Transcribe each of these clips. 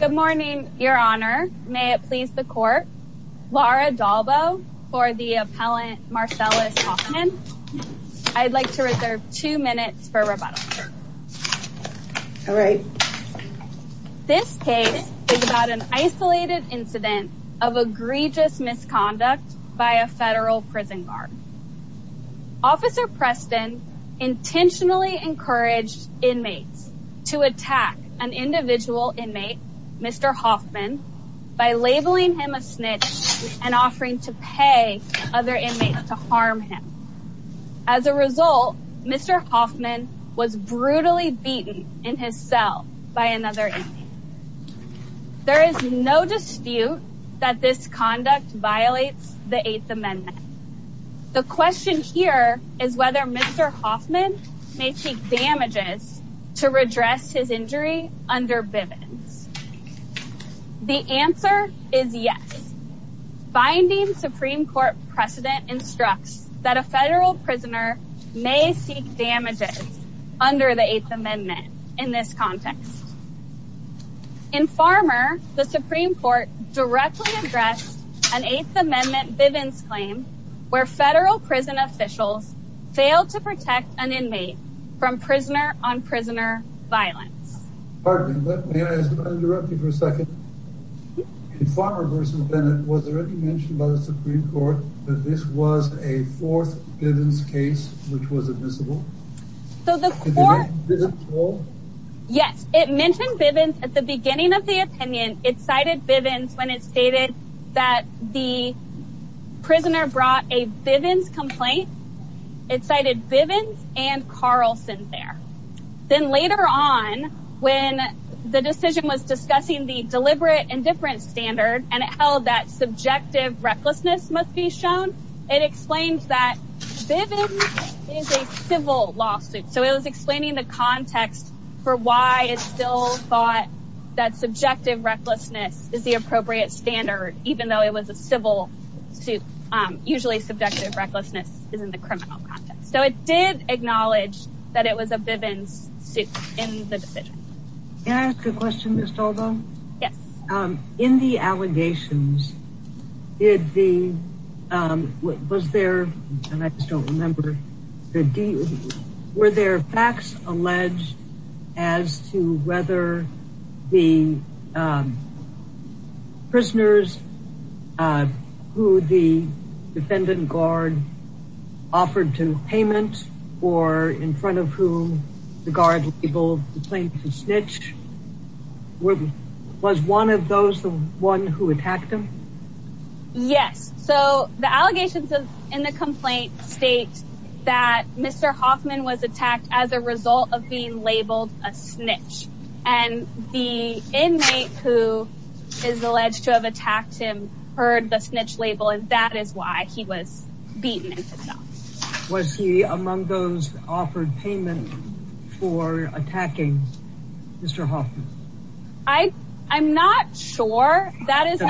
Good morning, Your Honor. May it please the Court, Laura Dalbo for the appellant Marcellas Hoffman. I'd like to reserve two minutes for rebuttal. All right. This case is about an isolated incident of egregious misconduct by a federal prison guard. Officer Preston intentionally encouraged inmates to attack an individual inmate, Mr. Hoffman, by labeling him a snitch and offering to pay other inmates to harm him. As a result, Mr. Hoffman was brutally beaten in his cell by another inmate. There is no dispute that this conduct violates the Eighth Amendment. The question here is whether Mr. Hoffman may take damages to redress his injury under Bivens. The answer is yes. Binding Supreme Court precedent instructs that a federal prisoner may seek damages under the Eighth Amendment in this context. In Farmer, the Supreme Court directly addressed an Eighth Amendment Bivens claim where federal prison officials failed to protect an inmate from prisoner-on-prisoner violence. Pardon me, but may I interrupt you for a second? In Farmer v. Bennett, was there any mention by the Supreme Court that this was a fourth Bivens case which was admissible? Yes, it mentioned Bivens at the beginning of the opinion. It cited Bivens when it stated that the prisoner brought a Bivens complaint. It cited Bivens and Carlson there. Then later on, when the decision was discussing the deliberate indifference standard and it held that subjective recklessness must be shown, it explained that Bivens is a civil lawsuit. It was explaining the context for why it still thought that subjective recklessness is the appropriate standard, even though it was a civil suit. Usually, subjective recklessness is in the criminal context. So it did acknowledge that it was a Bivens suit in the decision. Can I ask a question, Ms. Talbot? Yes. In the allegations, were there facts alleged as to whether the prisoners who the defendant guard offered to payment or in front of whom the guard labeled the plaintiff a snitch? Was one of those the one who attacked him? Yes. So the allegations in the complaint state that Mr. Hoffman was attacked as a result of being labeled a snitch. And the inmate who is alleged to have attacked him heard the snitch label, and that is why he was beaten. Was he among those offered payment for attacking Mr. Hoffman? I'm not sure. I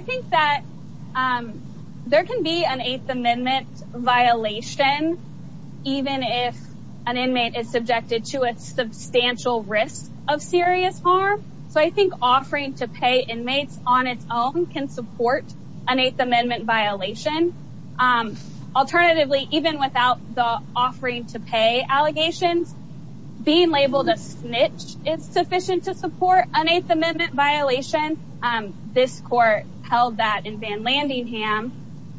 think that there can be an Eighth Amendment violation, even if an inmate is subjected to a substantial risk of serious harm. So I think offering to pay inmates on its own can support an Eighth Amendment violation. Alternatively, even without the offering to pay allegations, being labeled a snitch is sufficient to support an Eighth Amendment violation. This court held that in Van Landingham,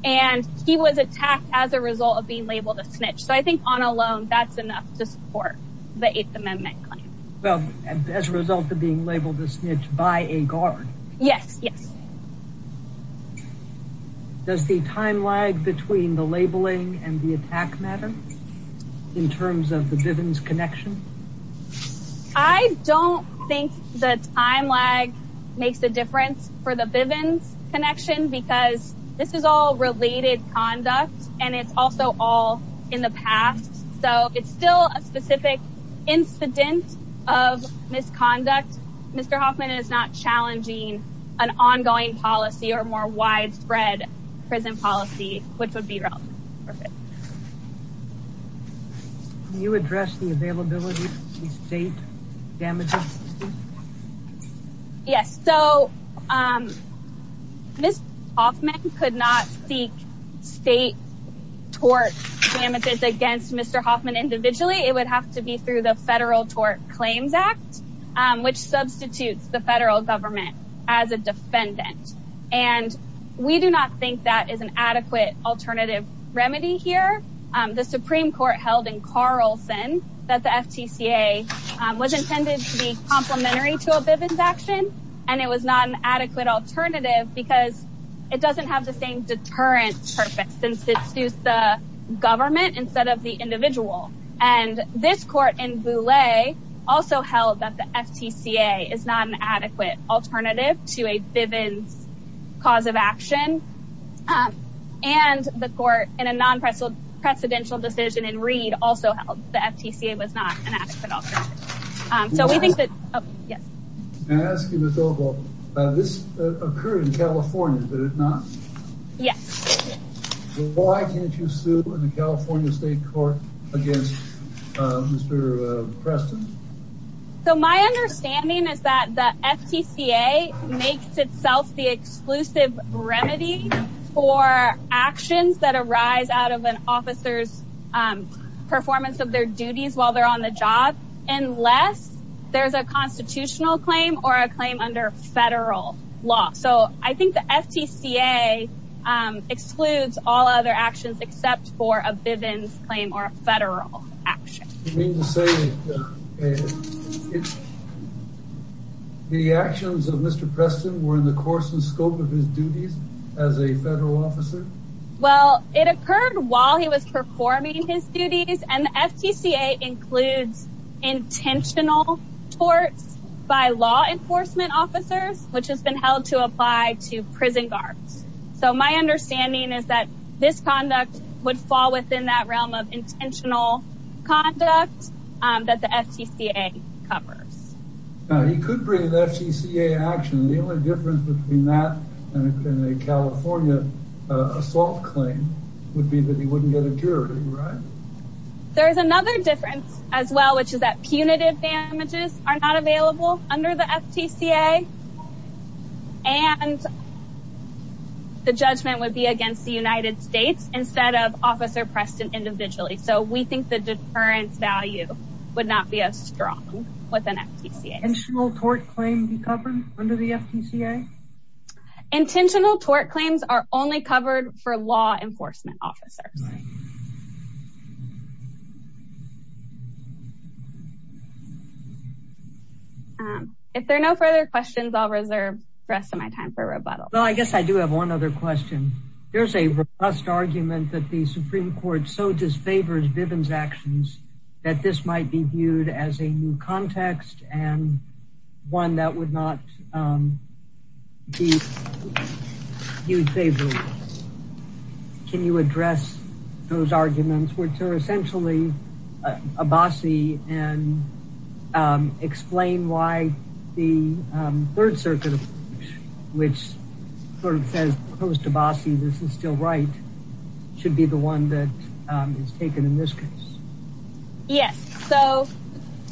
and he was attacked as a result of being labeled a snitch. So I think on a loan, that's enough to support the Eighth Amendment claim. Well, as a result of being labeled a snitch by a guard? Yes, yes. Does the time lag between the labeling and the attack matter in terms of the Bivens connection? I don't think the time lag makes a difference for the Bivens connection because this is all related conduct, and it's also all in the past. So it's still a specific incident of misconduct. Mr. Hoffman is not challenging an ongoing policy or more widespread prison policy, which would be wrong. Can you address the availability of state damages? Yes. So Mr. Hoffman could not seek state tort damages against Mr. Hoffman individually. It would have to be through the Federal Tort Claims Act, which substitutes the federal government as a defendant. And we do not think that is an adequate alternative remedy here. The Supreme Court held in Carlson that the FTCA was intended to be complementary to a Bivens action, and it was not an adequate alternative because it doesn't have the same deterrent purpose since it suits the government instead of the individual. And this court in Bouley also held that the FTCA is not an adequate alternative to a Bivens cause of action. And the court in a non-presidential decision in Reed also held the FTCA was not an adequate alternative. Can I ask you, Ms. Ogle, this occurred in California, did it not? Yes. Why can't you sue in the California state court against Mr. Preston? So my understanding is that the FTCA makes itself the exclusive remedy for actions that arise out of an officer's performance of their duties while they're on the job, unless there's a constitutional claim or a claim under federal law. So I think the FTCA excludes all other actions except for a Bivens claim or a federal action. You mean to say the actions of Mr. Preston were in the course and scope of his duties as a federal officer? Well, it occurred while he was performing his duties, and the FTCA includes intentional torts by law enforcement officers, which has been held to apply to prison guards. So my understanding is that this conduct would fall within that realm of intentional conduct that the FTCA covers. Now, he could bring an FTCA action. The only difference between that and a California assault claim would be that he wouldn't get a jury, right? There is another difference as well, which is that punitive damages are not available under the FTCA. And the judgment would be against the United States instead of Officer Preston individually. So we think the deterrence value would not be as strong with an FTCA. Would an intentional tort claim be covered under the FTCA? Intentional tort claims are only covered for law enforcement officers. If there are no further questions, I'll reserve the rest of my time for rebuttal. Well, I guess I do have one other question. There's a robust argument that the Supreme Court so disfavors Bivens' actions that this might be viewed as a new context and one that would not be viewed favorably. Can you address those arguments, which are essentially Abbasi, and explain why the Third Circuit, which sort of says opposed to Abbasi, this is still right, should be the one that is taken in this case? Yes. So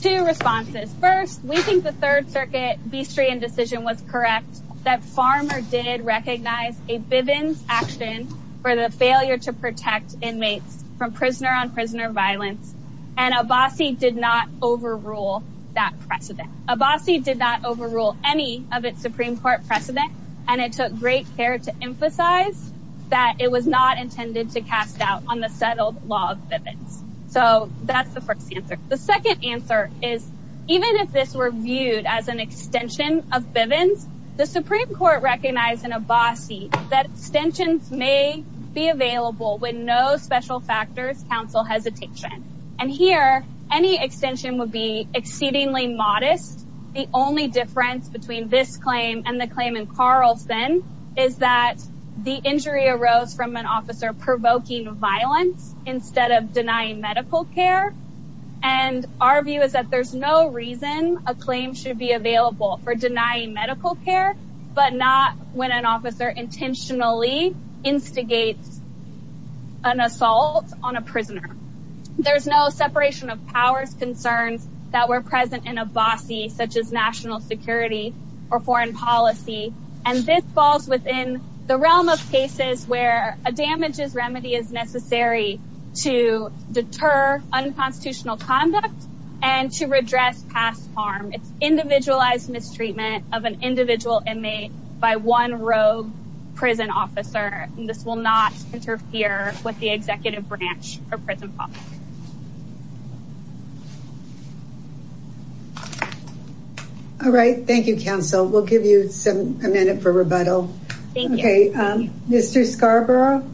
two responses. First, we think the Third Circuit Bestrian decision was correct that Farmer did recognize a Bivens' action for the failure to protect inmates from prisoner-on-prisoner violence. And Abbasi did not overrule that precedent. Abbasi did not overrule any of its Supreme Court precedent. And it took great care to emphasize that it was not intended to cast doubt on the settled law of Bivens. So that's the first answer. The second answer is, even if this were viewed as an extension of Bivens, the Supreme Court recognized in Abbasi that extensions may be available when no special factors counsel hesitation. And here, any extension would be exceedingly modest. The only difference between this claim and the claim in Carlson is that the injury arose from an officer provoking violence instead of denying medical care. And our view is that there's no reason a claim should be available for denying medical care, but not when an officer intentionally instigates an assault on a prisoner. There's no separation of powers concerns that were present in Abbasi, such as national security or foreign policy. And this falls within the realm of cases where a damages remedy is necessary to deter unconstitutional conduct and to redress past harm. It's individualized mistreatment of an individual inmate by one rogue prison officer. And this will not interfere with the executive branch of prison policy. All right. Thank you, counsel. We'll give you a minute for rebuttal. Thank you. Mr. Scarborough?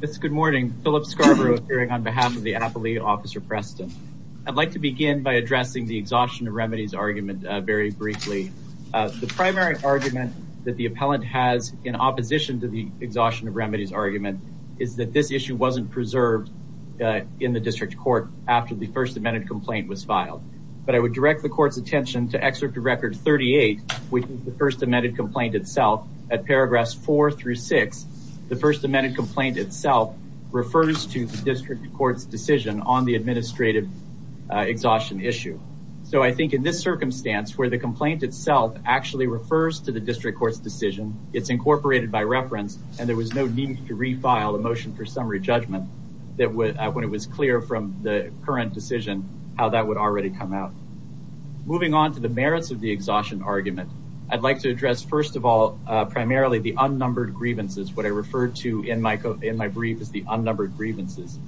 Good morning. Philip Scarborough, appearing on behalf of the appellee, Officer Preston. I'd like to begin by addressing the exhaustion of remedies argument very briefly. The primary argument that the appellant has in opposition to the exhaustion of remedies argument is that this issue wasn't preserved in the district court after the first amended complaint was filed. But I would direct the court's attention to excerpt of record 38, which is the first amended complaint itself. At paragraphs 4 through 6, the first amended complaint itself refers to the district court's decision on the administrative exhaustion issue. So I think in this circumstance where the complaint itself actually refers to the district court's decision, it's incorporated by reference, and there was no need to refile a motion for summary judgment when it was clear from the current decision how that would already come out. Moving on to the merits of the exhaustion argument, I'd like to address, first of all, primarily the unnumbered grievances, what I referred to in my brief as the unnumbered grievances.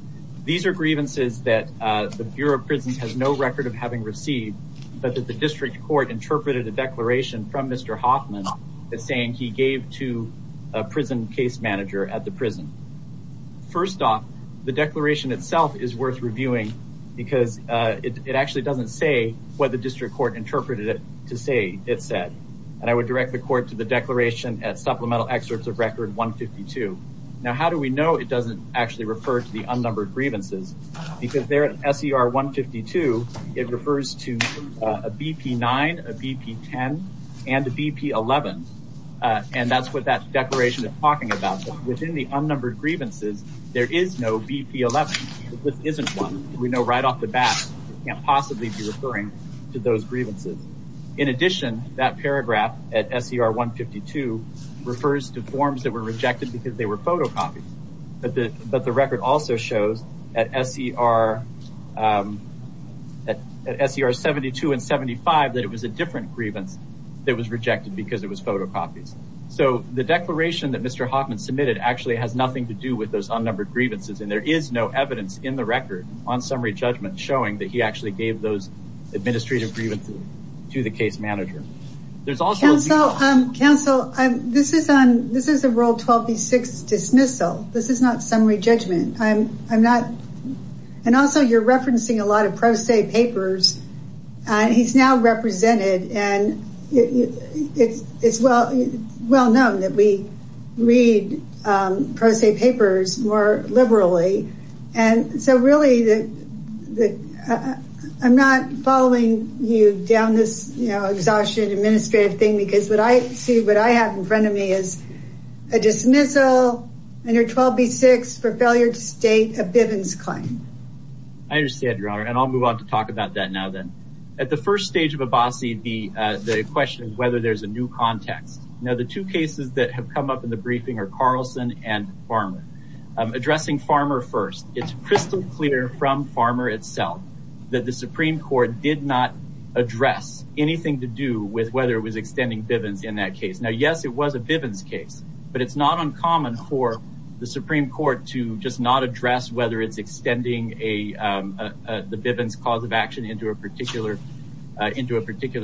These are grievances that the Bureau of Prisons has no record of having received, but that the district court interpreted a declaration from Mr. Hoffman saying he gave to a prison case manager at the prison. First off, the declaration itself is worth reviewing because it actually doesn't say what the district court interpreted it to say it said. And I would direct the court to the declaration at supplemental excerpts of record 152. Now, how do we know it doesn't actually refer to the unnumbered grievances? Because there at SER 152, it refers to a BP-9, a BP-10, and a BP-11. And that's what that declaration is talking about. Within the unnumbered grievances, there is no BP-11. This isn't one. We know right off the bat it can't possibly be referring to those grievances. In addition, that paragraph at SER 152 refers to forms that were rejected because they were photocopied. But the record also shows at SER 72 and 75 that it was a different grievance that was rejected because it was photocopied. So the declaration that Mr. Hoffman submitted actually has nothing to do with those unnumbered grievances. And there is no evidence in the record on summary judgment showing that he actually gave those administrative grievances to the case manager. There's also... Counsel, this is a Rule 12b-6 dismissal. This is not summary judgment. I'm not... And also, you're referencing a lot of pro se papers. He's now represented, and it's well known that we read pro se papers more liberally. And so really, I'm not following you down this exhaustion administrative thing because what I see, what I have in front of me is a dismissal under 12b-6 for failure to state a Bivens claim. I understand, Your Honor, and I'll move on to talk about that now then. At the first stage of Abbasi, the question is whether there's a new context. Now, the two cases that have come up in the briefing are Carlson and Farmer. Addressing Farmer first, it's crystal clear from Farmer itself that the Supreme Court did not address anything to do with whether it was extending Bivens in that case. Now, yes, it was a Bivens case, but it's not uncommon for the Supreme Court to just not address whether it's extending the Bivens cause of action into a particular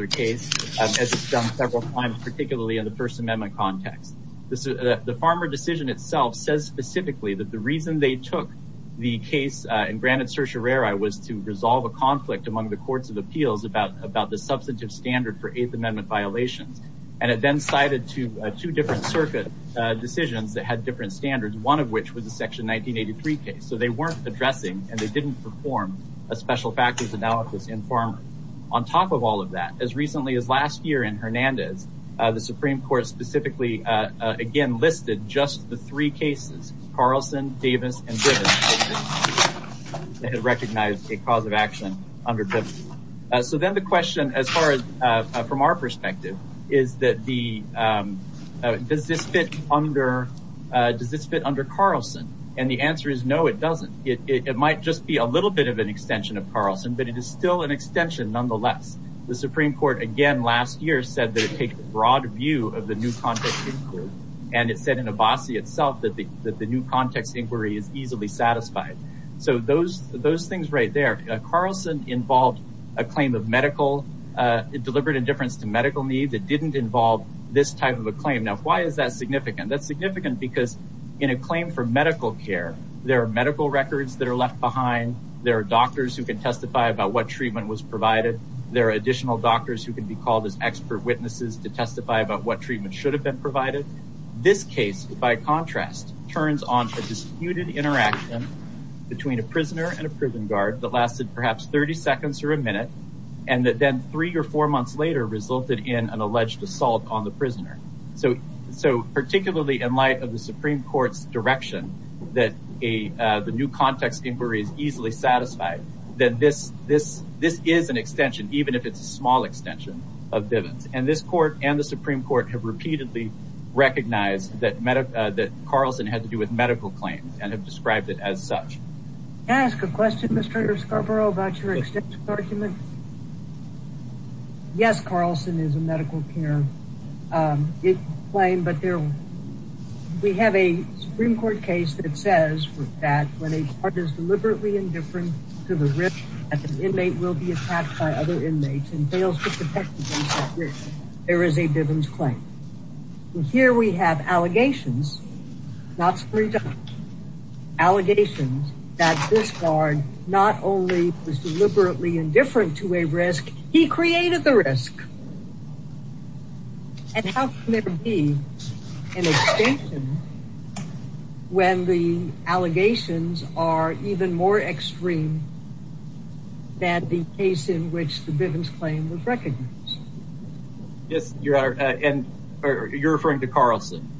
case, as it's done several times, particularly in the First Amendment context. The Farmer decision itself says specifically that the reason they took the case and granted certiorari was to resolve a conflict among the courts of appeals about the substantive standard for Eighth Amendment violations. And it then cited two different circuit decisions that had different standards, one of which was the Section 1983 case. So they weren't addressing and they didn't perform a special factors analysis in Farmer. On top of all of that, as recently as last year in Hernandez, the Supreme Court specifically, again, listed just the three cases, Carlson, Davis, and Bivens, that had recognized a cause of action under Bivens. So then the question, as far as from our perspective, is that does this fit under Carlson? And the answer is no, it doesn't. It might just be a little bit of an extension of Carlson, but it is still an extension nonetheless. The Supreme Court, again, last year said that it takes a broad view of the new context inquiry. And it said in Abbasi itself that the new context inquiry is easily satisfied. So those things right there, Carlson involved a claim of medical deliberate indifference to medical needs. It didn't involve this type of a claim. Now, why is that significant? That's significant because in a claim for medical care, there are medical records that are left behind. There are doctors who can testify about what treatment was provided. There are additional doctors who can be called as expert witnesses to testify about what treatment should have been provided. This case, by contrast, turns on a disputed interaction between a prisoner and a prison guard that lasted perhaps 30 seconds or a minute, and that then three or four months later resulted in an alleged assault on the prisoner. So particularly in light of the Supreme Court's direction that the new context inquiry is easily satisfied, then this is an extension, even if it's a small extension, of Bivens. And this court and the Supreme Court have repeatedly recognized that Carlson had to do with medical claims and have described it as such. Can I ask a question, Mr. Scarborough, about your extension argument? Yes, Carlson is a medical care claim, but we have a Supreme Court case that says that when a guard is deliberately indifferent to the risk that an inmate will be attacked by other inmates and fails to protect against that risk, there is a Bivens claim. And here we have allegations, not Supreme Court, allegations that this guard not only was deliberately indifferent to a risk, he created the risk. And how can there be an extension when the allegations are even more extreme than the case in which the Bivens claim was recognized? Yes, you're referring to Carlson?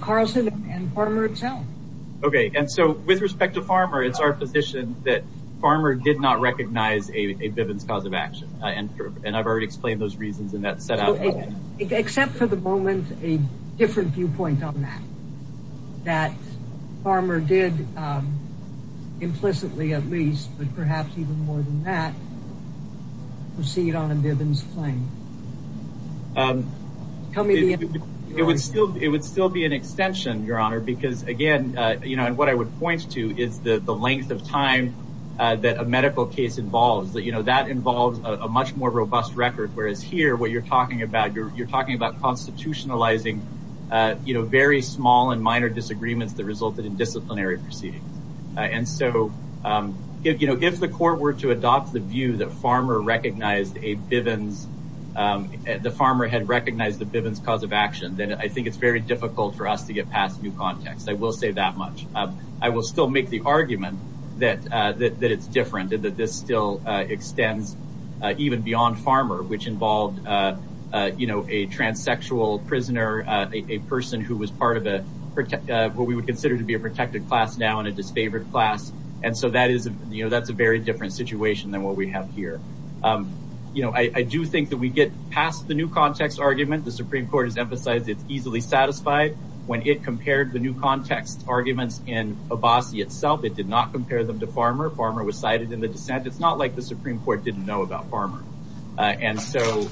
Carlson and Farmer himself. Okay, and so with respect to Farmer, it's our position that Farmer did not recognize a Bivens cause of action. And I've already explained those reasons in that setup. Except for the moment, a different viewpoint on that, that Farmer did implicitly, at least, but perhaps even more than that, proceed on a Bivens claim. It would still be an extension, Your Honor, because again, what I would point to is the length of time that a medical case involves. That involves a much more robust record, whereas here, what you're talking about, you're talking about constitutionalizing very small and minor disagreements that resulted in disciplinary proceedings. And so, you know, if the court were to adopt the view that Farmer recognized a Bivens, the Farmer had recognized the Bivens cause of action, then I think it's very difficult for us to get past new context. I will say that much. I will still make the argument that it's different and that this still extends even beyond Farmer, which involved, you know, a transsexual prisoner, a person who was part of what we would consider to be a protected class now and a disfavored class. And so that is, you know, that's a very different situation than what we have here. You know, I do think that we get past the new context argument. The Supreme Court has emphasized it's easily satisfied when it compared the new context arguments in Abbasi itself. It did not compare them to Farmer. Farmer was cited in the dissent. It's not like the Supreme Court didn't know about Farmer. And so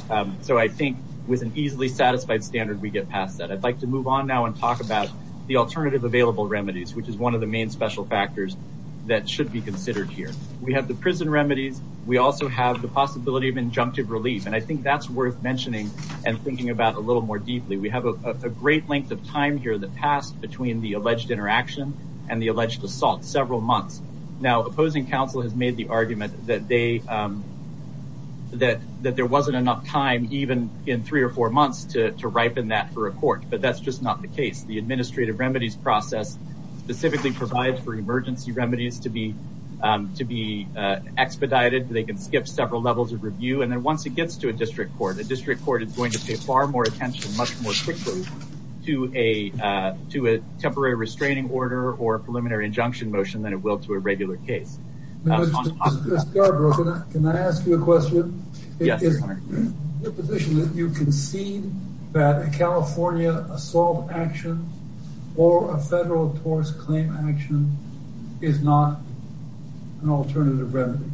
I think with an easily satisfied standard, we get past that. I'd like to move on now and talk about the alternative available remedies, which is one of the main special factors that should be considered here. We have the prison remedies. We also have the possibility of injunctive relief. And I think that's worth mentioning and thinking about a little more deeply. We have a great length of time here that passed between the alleged interaction and the alleged assault, several months. Now, opposing counsel has made the argument that there wasn't enough time, even in three or four months, to ripen that for a court. But that's just not the case. The administrative remedies process specifically provides for emergency remedies to be to be expedited. They can skip several levels of review. And then once it gets to a district court, a district court is going to pay far more attention, much more quickly to a to a temporary restraining order or a preliminary injunction motion than it will to a regular case. Mr. Scarborough, can I ask you a question? Yes. Is it your position that you concede that a California assault action or a federal torts claim action is not an alternative remedy?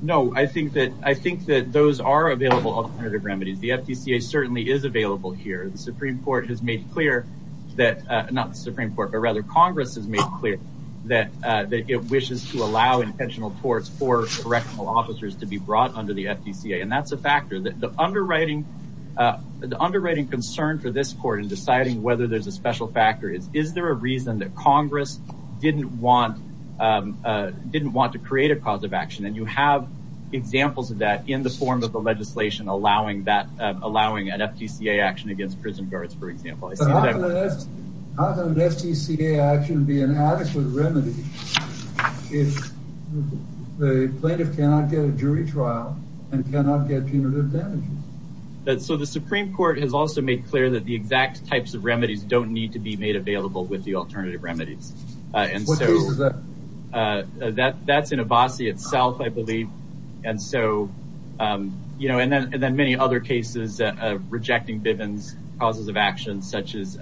No, I think that I think that those are available alternative remedies. The FTC certainly is available here. The Supreme Court has made clear that not the Supreme Court, but rather Congress has made clear that it wishes to allow intentional torts for correctional officers to be brought under the FTC. And that's a factor that the underwriting, the underwriting concern for this court in deciding whether there's a special factor is, is there a reason that Congress didn't want didn't want to create a cause of action? And you have examples of that in the form of the legislation, allowing that, allowing an FTC action against prison guards, for example. How can an FTC action be an adequate remedy if the plaintiff cannot get a jury trial and cannot get punitive damages? So the Supreme Court has also made clear that the exact types of remedies don't need to be made available with the alternative remedies. What case is that? That's in Abbasi itself, I believe. And so, you know, and then many other cases of rejecting Bivens causes of action, such as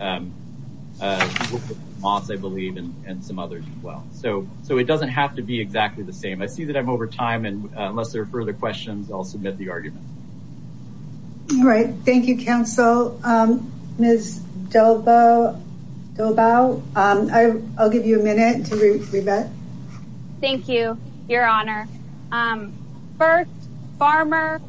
Moss, I believe, and some others as well. So, so it doesn't have to be exactly the same. I see that I'm over time. And unless there are further questions, I'll submit the argument. All right. Thank you, counsel. Ms. Dobow, I'll give you a minute to rebut. Thank you, Your Honor. First, Farmer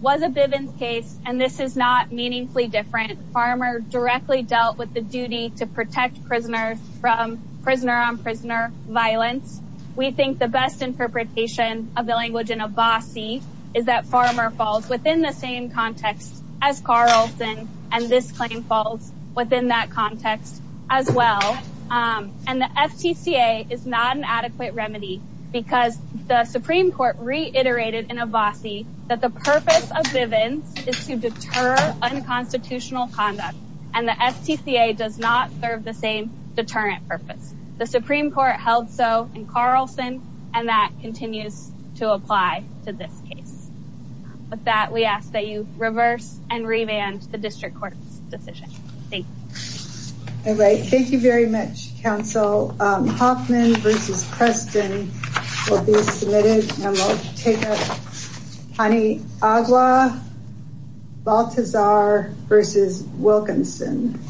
was a Bivens case, and this is not meaningfully different. Farmer directly dealt with the duty to protect prisoners from prisoner on prisoner violence. We think the best interpretation of the language in Abbasi is that Farmer falls within the same context as Carlton. And this claim falls within that context as well. And the FTCA is not an adequate remedy because the Supreme Court reiterated in Abbasi that the purpose of Bivens is to deter unconstitutional conduct. And the FTCA does not serve the same deterrent purpose. The Supreme Court held so in Carlson, and that continues to apply to this case. With that, we ask that you reverse and revamp the district court's decision. Thank you. All right. Thank you very much, counsel. Hoffman versus Preston will be submitted and we'll take up. Pani Agua, Baltazar versus Wilkinson.